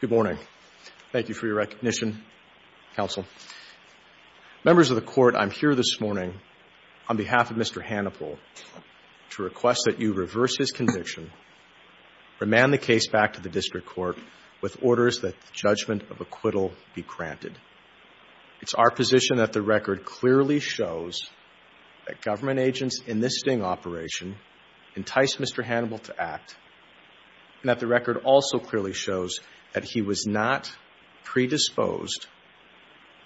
Good morning. Thank you for your recognition, counsel. Members of the court, I'm here this morning on behalf of Mr. Hanapel to request that you reverse his conviction, remand the case back to the district court with orders that the judgment of acquittal be granted. It's our position that the record clearly shows that government agents in this sting operation enticed Mr. Hanapel to act and that the record also clearly shows that he was not predisposed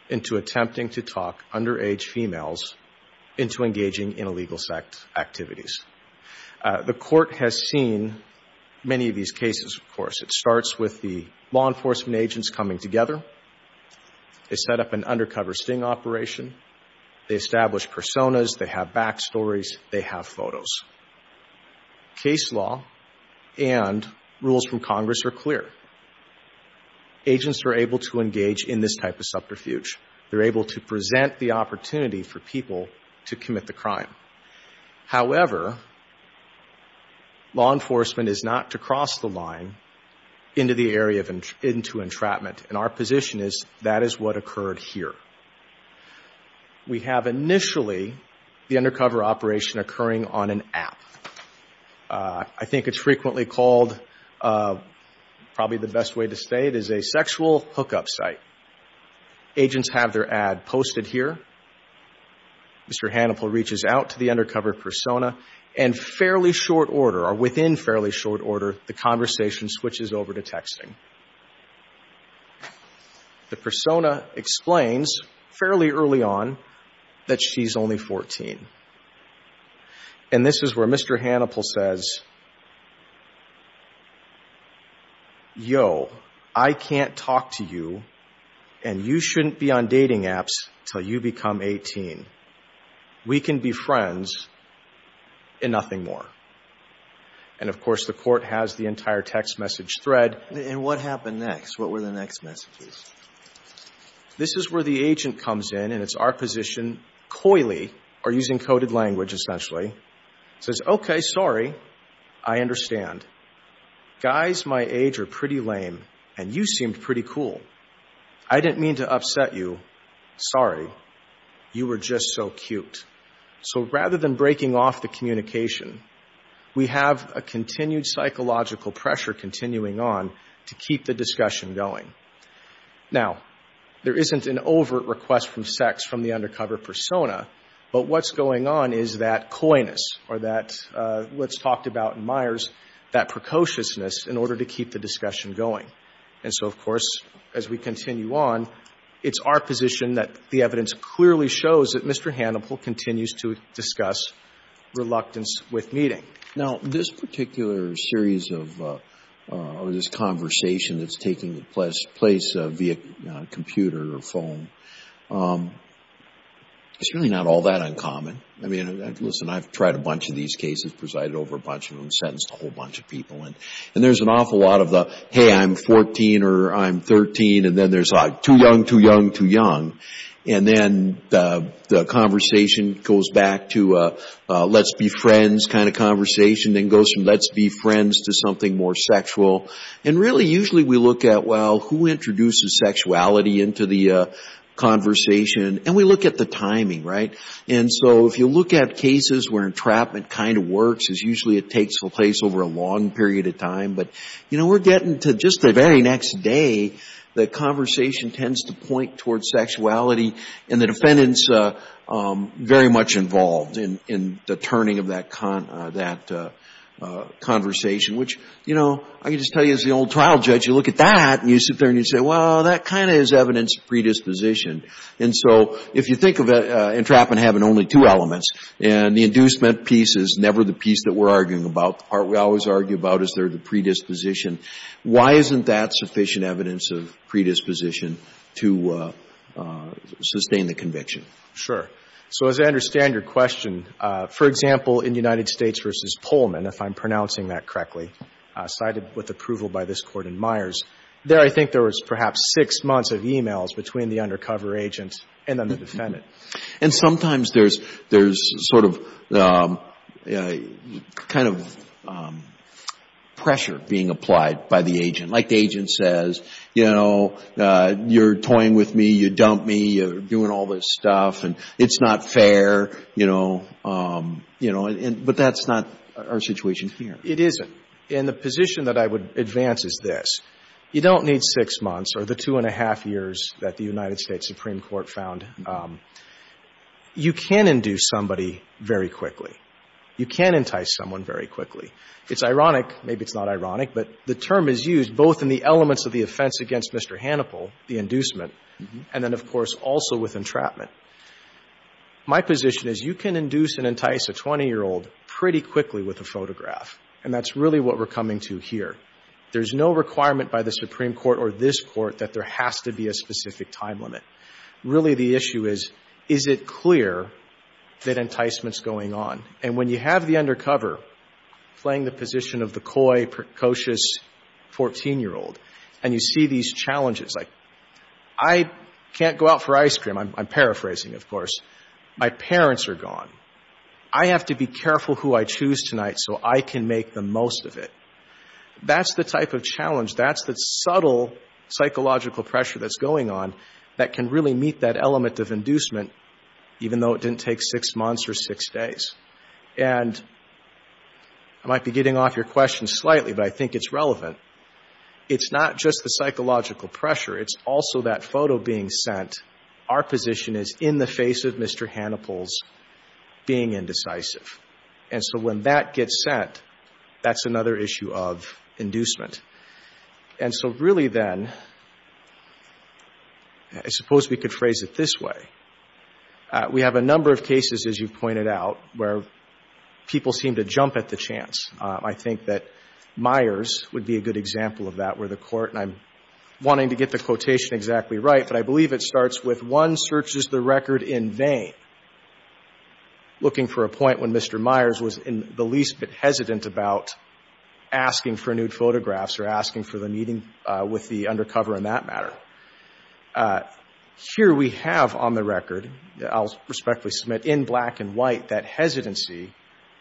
into attempting to talk underage females into engaging in illegal activities. The court has seen many of these cases, of course. It starts with the law enforcement agents coming together. They set up an undercover sting operation. They establish personas. They have backstories. They have photos. Case law and rules from Congress are clear. Agents are able to engage in this type of subterfuge. They're able to present the opportunity for people to commit the crime. However, law enforcement is not to cross the line into the area of entrapment. And our position is that is what occurred here. We have initially the undercover operation occurring on an app. I think it's frequently called, probably the best way to say it, is a sexual hookup site. Agents have their ad posted here. Mr. Hanapel reaches out to the undercover persona and fairly short order, or within fairly short order, the conversation switches over to texting. The persona explains fairly early on that she's only 14. And this is where Mr. Hanapel says, yo, I can't talk to you and you shouldn't be on dating apps until you become 18. We can be friends and nothing more. And, of course, the court has the opportunity to engage in this type of subterfuge. So what happened next? What were the next messages? This is where the agent comes in, and it's our position, coyly, or using coded language essentially, says, okay, sorry, I understand. Guys my age are pretty lame, and you going. Now, there isn't an overt request from sex from the undercover persona, but what's going on is that coyness or that, what's talked about in Myers, that precociousness in order to keep the discussion going. And so, of course, as we continue on, it's our position that the evidence clearly shows that Mr. Hanapel continues to discuss reluctance with meeting. Now, this particular series of, or this conversation that's taking place via computer or phone, it's really not all that uncommon. I mean, listen, I've tried a bunch of these cases, presided over a bunch of them, sentenced a whole bunch of people. And there's an awful lot of the, hey, I'm 14 or I'm 13, and then there's two young, two young, two young. And then the conversation goes back to a let's be friends kind of conversation, then goes from let's be friends to something more sexual. And really, usually we look at, well, who introduces sexuality into the conversation? And we look at the timing, right? And so, if you look at cases where entrapment kind of works, usually it takes place over a long period of time. But, you know, we're getting to just the very next day that conversation tends to point towards sexuality, and the defendant's very much involved in the turning of that conversation, which, you know, I can just tell you as the old trial judge, you look at that and you sit there and you say, well, that kind of is evidence of predisposition. And so, if you think of entrapment having only two elements, and the inducement piece is never the piece that we're arguing about. The part we always argue about is there the predisposition. Why isn't that sufficient evidence of predisposition to sustain the conviction? Sure. So, as I understand your question, for example, in United States v. Polman, if I'm pronouncing that correctly, cited with approval by this Court in Myers, there I think there was perhaps six months of e-mails between the undercover agent and then the defendant. And sometimes there's sort of kind of pressure being applied by the agent. Like the agent says, you know, you're toying with me, you dumped me, you're doing all this stuff, and it's not fair, you know. But that's not our situation here. It isn't. And the position that I would advance is this. You don't need six months or the two and a half years that the United States Supreme Court found. You can induce somebody very quickly. You can entice someone very quickly. It's ironic, maybe it's not ironic, but the term is used both in the elements of the offense against Mr. Hannibal, the inducement, and then, of course, also with entrapment. My position is you can induce and entice a 20-year-old pretty quickly with a photograph, and that's really what we're coming to here. There's no requirement by the Supreme Court or this Court that there has to be a specific time limit. Really the issue is, is it clear that enticement's going on? And when you have the undercover playing the position of the coy, precocious 14-year-old, and you see these challenges, like I can't go out for ice cream, I'm paraphrasing, of course, my parents are gone. I have to be careful who I choose tonight so I can make the most of it. That's the type of challenge. That's the subtle psychological pressure that's going on that can really meet that element of inducement, even though it didn't take six months or six days. And I might be getting off your question slightly, but I think it's relevant. It's not just the psychological pressure. It's also that being indecisive. And so when that gets sent, that's another issue of inducement. And so really then, I suppose we could phrase it this way. We have a number of cases, as you've pointed out, where people seem to jump at the chance. I think that Myers would be a good example of that, where the Court, and I'm wanting to get the quotation exactly right, but I believe it starts with one searches the record in vain, looking for a point when Mr. Myers was the least bit hesitant about asking for nude photographs or asking for the meeting with the undercover in that matter. Here we have on the record, I'll respectfully submit, in black and white, that hesitancy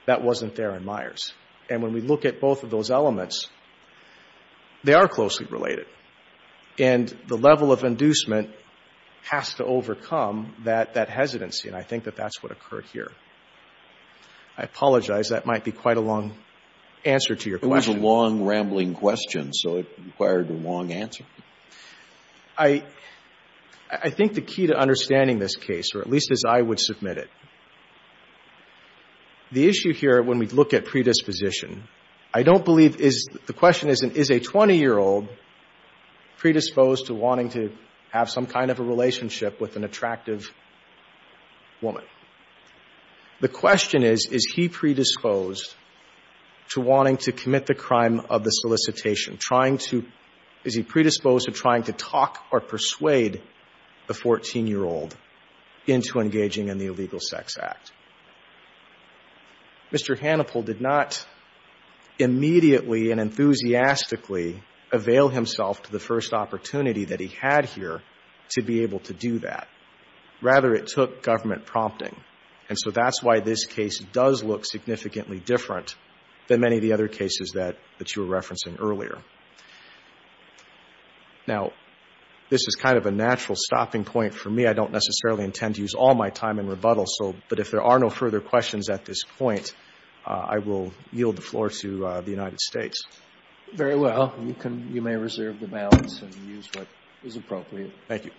that wasn't there in Myers. And when we look at both of those elements, they are the same. The level of inducement has to overcome that hesitancy, and I think that that's what occurred here. I apologize. That might be quite a long answer to your question. It was a long, rambling question, so it required a long answer. I think the key to understanding this case, or at least as I would submit it, the issue here, when we look at predisposition, I don't believe is the question is, is a 20-year-old predisposed to wanting to have some kind of a relationship with an attractive woman? The question is, is he predisposed to wanting to commit the crime of the solicitation, trying to, is he predisposed to trying to talk or persuade the 14-year-old into engaging in the Illegal Sex Act? Mr. Hannipol did not immediately and enthusiastically avail himself to the first opportunity that he had here to be able to do that. Rather, it took government prompting, and so that's why this case does look significantly different than many of the other cases that you were referencing earlier. Now, this is kind of a natural stopping point for me. I don't necessarily intend to use all my time in rebuttal, so, but if there are no further questions at this point, I will yield the floor to the United States. Very well. You can, you may reserve the balance and use what is appropriate. Thank you.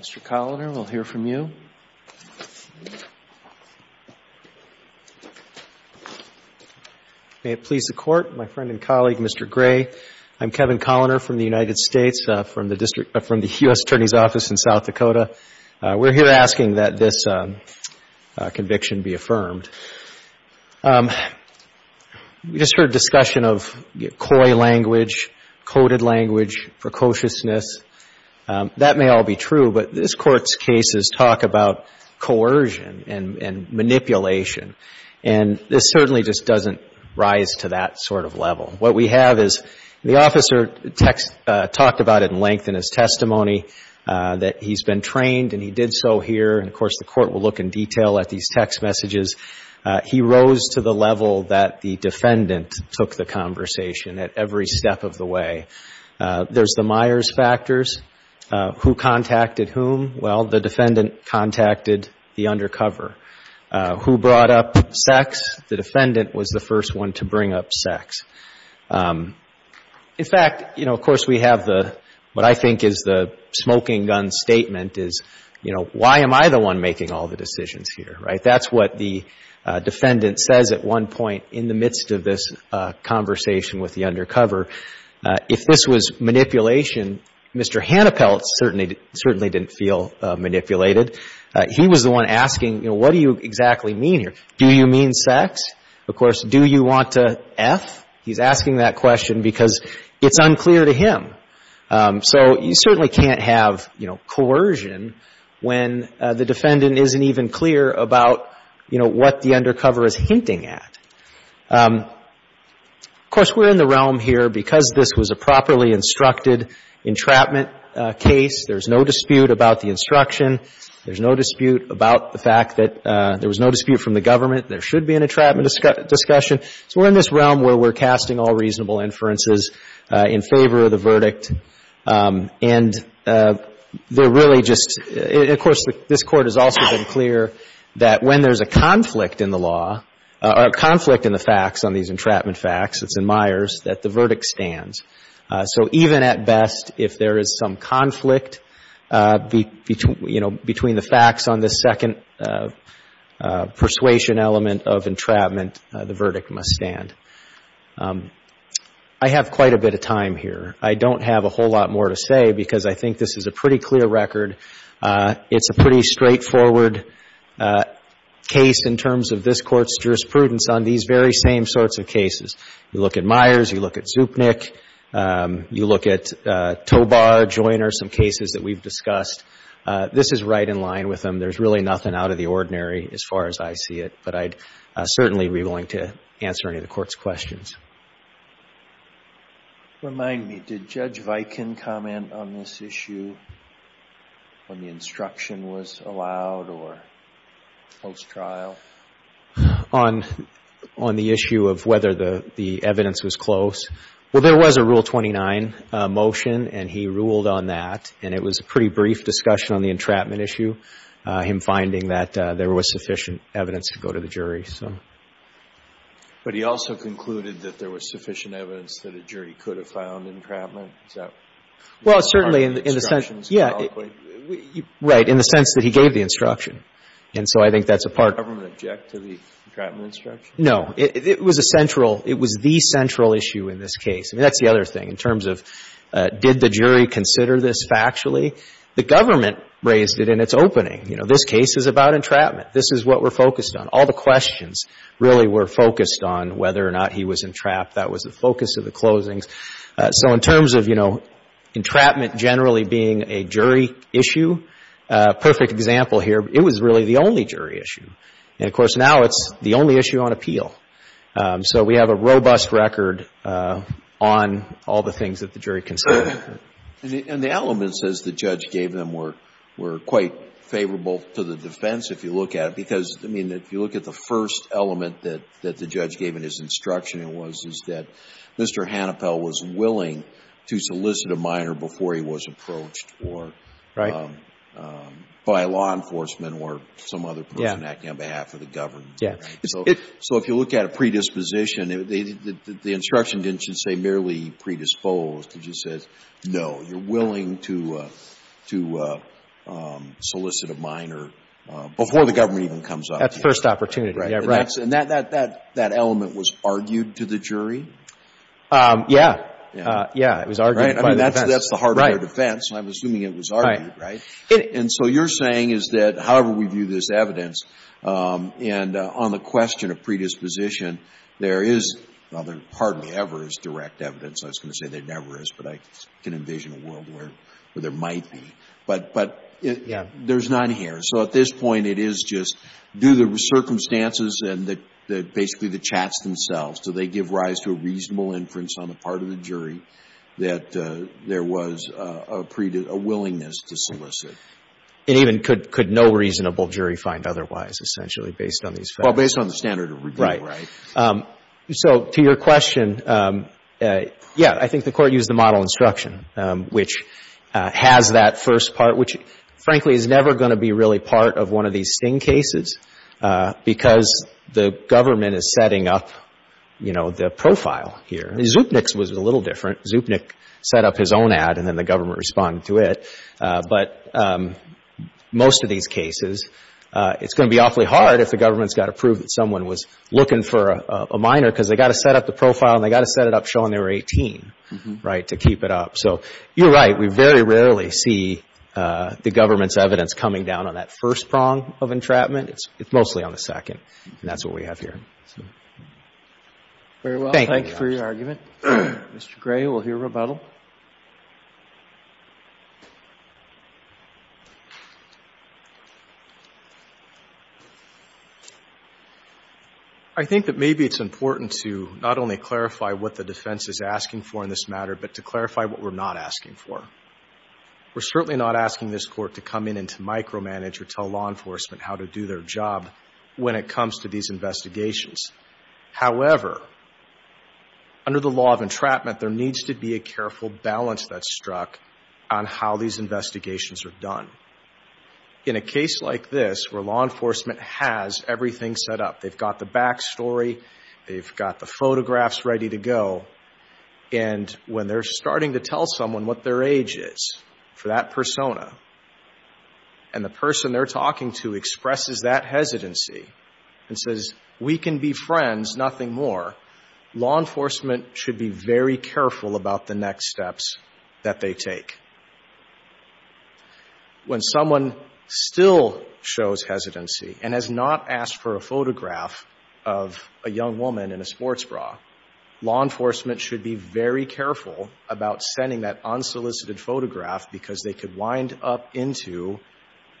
Mr. Coloner, we'll hear from you. May it please the Court. My friend and colleague, Mr. Gray. I'm Kevin Coloner from the United States, from the District, from the U.S. Attorney's Office in South Dakota. We're here asking that this conviction be affirmed. We just heard discussion of coy language, coded language, precociousness. That may all be true, but this Court's cases talk about coercion and manipulation, and this certainly just doesn't rise to that sort of level. What we have is the officer talked about at length in his testimony that he's been trained and he did so here, and, of course, the Court will look in detail at these text messages. He rose to the level that the defendant took the conversation at every step of the way. There's the Myers factors, who contacted whom. Well, the defendant contacted the undercover. Who brought up sex? The defendant was the first one to bring up sex. In fact, you know, of course, we have the, what I think is the smoking gun statement is, you know, why am I the one making all the decisions here, right? That's what the undercover, if this was manipulation, Mr. Hannapelt certainly didn't feel manipulated. He was the one asking, you know, what do you exactly mean here? Do you mean sex? Of course, do you want to F? He's asking that question because it's unclear to him. So you certainly can't have, you know, coercion when the defendant isn't even clear about, you know, what the undercover is hinting at. Of course, we're in the realm here because this was a properly instructed entrapment case. There's no dispute about the instruction. There's no dispute about the fact that there was no dispute from the government. There should be an entrapment discussion. So we're in this realm where we're casting all reasonable inferences in favor of the verdict. And they're really just, of course, this Court has also been clear that when there's a conflict in the law or a conflict in the facts on these entrapment facts, it's in Myers, that the verdict stands. So even at best, if there is some conflict between, you know, between the facts on this second persuasion element of entrapment, the verdict must stand. I have quite a bit of time here. I don't have a whole lot more to say because I think this is a pretty clear record. It's a pretty straightforward case in terms of this Court's jurisprudence on these very same sorts of cases. You look at Myers, you look at Zupnik, you look at Tobar, Joyner, some cases that we've discussed. This is right in line with them. There's really nothing out of the ordinary as far as I see it. But I'd certainly be willing to answer any of the Court's questions. Remind me, did Judge Viken comment on this issue when the instruction was allowed or post-trial? On the issue of whether the evidence was close. Well, there was a Rule 29 motion, and he ruled on that. And it was a pretty brief discussion on the entrapment issue, him finding that there was sufficient evidence that a jury could have found entrapment. Well, certainly in the sense, yeah, right, in the sense that he gave the instruction. And so I think that's a part. Did the government object to the entrapment instruction? No. It was a central, it was the central issue in this case. I mean, that's the other thing in terms of did the jury consider this factually? The government raised it in its opening. You know, this case is about entrapment. This is what we're focused on. All the questions really were focused on whether or not he was entrapped. That was the focus of the closings. So in terms of, you know, entrapment generally being a jury issue, perfect example here. It was really the only jury issue. And, of course, now it's the only issue on appeal. So we have a robust record on all the things that the jury considered. And the elements, as the judge gave them, were quite favorable to the defense, if you look at it. Because, I mean, if you look at the first element that the judge gave in his instruction, it was that Mr. Hannepel was willing to solicit a minor before he was approached or by law enforcement or some other person acting on behalf of the government. So if you look at a predisposition, the instruction didn't just say merely predisposed. It just said, no, you're willing to solicit a minor before the government even comes up. That's the first opportunity. And that element was argued to the jury? Yeah. It was argued by the defense. That's the hardware defense. I'm assuming it was argued, right? And so you're saying is that, however we view this evidence, and on the question of predisposition, there is, well, there hardly ever is direct evidence. I was going to say there never is, but I can envision a world where there might be. But there's none here. So at this point, it is just do the circumstances and basically the chats themselves. Do they give rise to a reasonable inference on the part of the jury that there was a willingness to solicit? It even could no reasonable jury find otherwise, essentially, based on these facts. Well, based on the standard of review, right? Right. So to your question, yeah. I think the Court used the model instruction, which has that first part, which, frankly, is never going to be really part of one of these Sting cases because the government is setting up, you know, the profile here. Zupnick's was a little different. Zupnick set up his own ad, and then the government responded to it. But most of these cases, it's going to be awfully hard if the government's got to prove that someone was looking for a minor because they've got to set up the profile, and they've got to set it up showing they were 18, right, to keep it up. So you're right. We very rarely see the government's evidence coming down on that first prong of entrapment. It's mostly on the second, and that's what we have here. Very well. Thank you. Thank you for your argument. Mr. Gray, we'll hear rebuttal. I think that maybe it's important to not only clarify what the defense is asking for in this matter, but to clarify what we're not asking for. We're certainly not asking this Court to come in and to micromanage or tell law enforcement how to do their job when it comes to these investigations. However, under the law of entrapment, there needs to be a careful balance that's struck on how these investigations are done. In a case like this, where law enforcement has everything set up, they've got the backstory, they've got the photographs ready to go, and when they're starting to tell someone what their age is for that persona, and the person they're talking to expresses that hesitancy and says, we can be friends, nothing more, law enforcement should be very careful about the next steps that they take. When someone still shows hesitancy and has not asked for a photograph of a young woman in a sports bra, law enforcement should be very careful about sending that unsolicited photograph because they could wind up into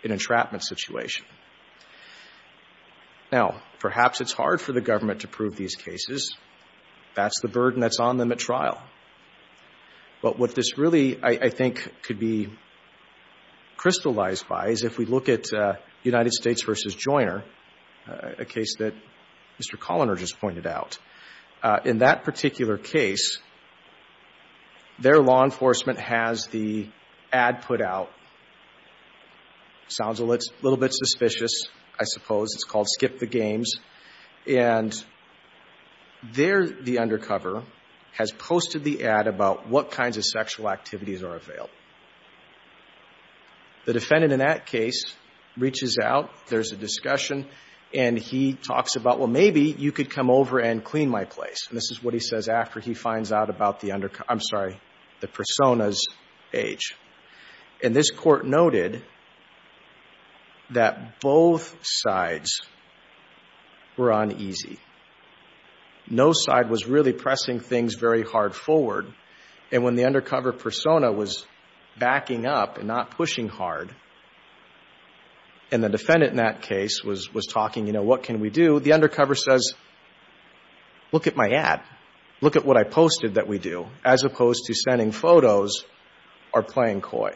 an entrapment situation. Now, perhaps it's hard for the government to prove these cases. That's the burden that's on them at trial. But what this really, I think, could be crystallized by is if we look at United States v. Joyner, a case that Mr. Colliner just pointed out. In that particular case, their law enforcement has the ad put out. Sounds a little bit suspicious, I suppose. It's called Skip the Games. And there the undercover has posted the ad about what kinds of sexual activities are available. The defendant in that case reaches out. There's a discussion, and he talks about, well, maybe you could come over and clean my place. And this is what he says after he finds out about the undercover, I'm sorry, the persona's age. And this court noted that both sides were uneasy. No side was really pressing things very hard forward. And when the undercover persona was backing up and not pushing hard, and the defendant in that case was talking, you know, what can we do, the undercover says, look at my ad, look at what I posted that we do, as opposed to sending photos or playing coy.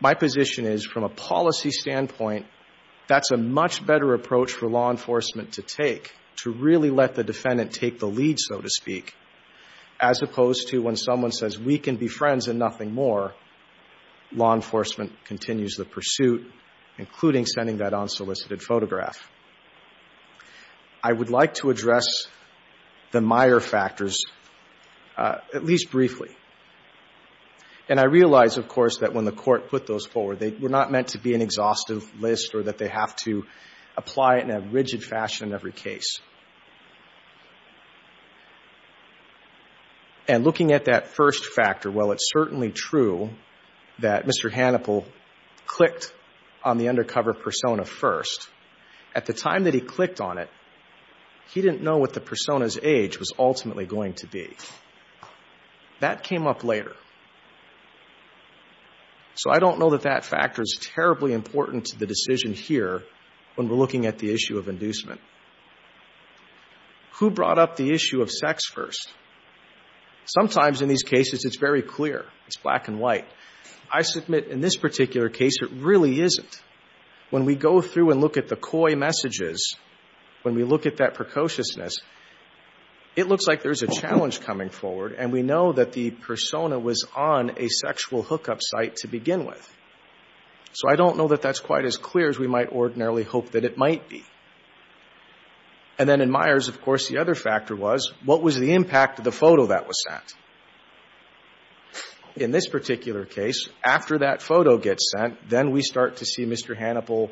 My position is from a policy standpoint, that's a much better approach for law enforcement to take, to really let the defendant take the lead, so to speak, as opposed to when someone says we can be friends and nothing more, law enforcement continues the pursuit, including sending that unsolicited photograph. I would like to address the Meyer factors at least briefly. And I realize, of course, that when the court put those forward, they were not meant to be an exhaustive list or that they have to apply it in a rigid fashion in every case. And looking at that first factor, well, it's certainly true that Mr. Hannibal clicked on the undercover persona first, at the time that he clicked on it, he didn't know what the persona's age was ultimately going to be. That came up later. So I don't know that that factor is terribly important to the decision here when we're looking at the issue of inducement. Who brought up the issue of sex first? Sometimes in these cases, it's very clear, it's black and white. I submit in this particular case, it really isn't. When we go through and look at the coy messages, when we look at that precociousness, it looks like there's a challenge coming forward, and we know that the persona was on a sexual hookup site to begin with. So I don't know that that's quite as clear as we might ordinarily hope that it might be. And then in Myers, of course, the other factor was, what was the impact of the photo that was sent? In this particular case, after that photo gets sent, then we start to see Mr. Hannibal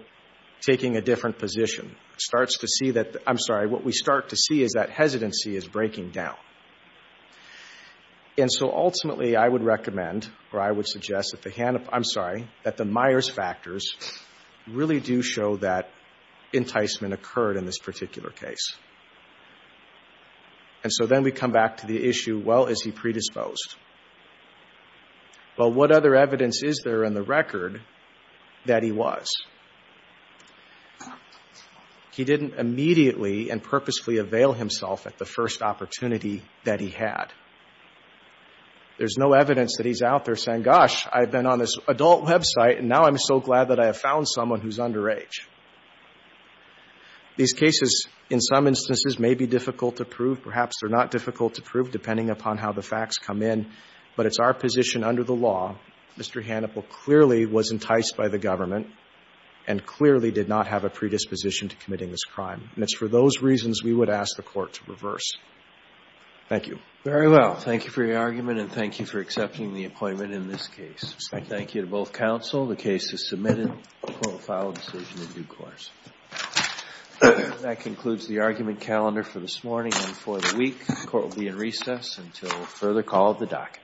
taking a different position. It starts to see that, I'm sorry, what we start to see is that hesitancy is breaking down. And so ultimately, I would recommend, or I would suggest that the Hannibal, I'm sorry, that the Myers factors really do show that enticement occurred in this particular case. And so then we come back to the issue, well, is he predisposed? Well, what other evidence is there in the record that he was? He didn't immediately and purposefully avail himself at the first opportunity that he had. There's no evidence that he's out there saying, gosh, I've been on this adult website, and now I'm so glad that I have found someone who's underage. These cases, in some instances, may be difficult to prove. Perhaps they're not difficult to prove, depending upon how the facts come in. But it's our position under the law, Mr. Hannibal clearly was enticed by the government and clearly did not have a predisposition to committing this crime. And it's for those reasons we would ask the Court to reverse. Thank you. Very well. Thank you for your argument, and thank you for accepting the appointment in this case. Thank you. Thank you to both counsel. The case is submitted. The Court will file a decision in due course. That concludes the argument calendar for this morning and for the week. The Court will be in recess until further call at the docket.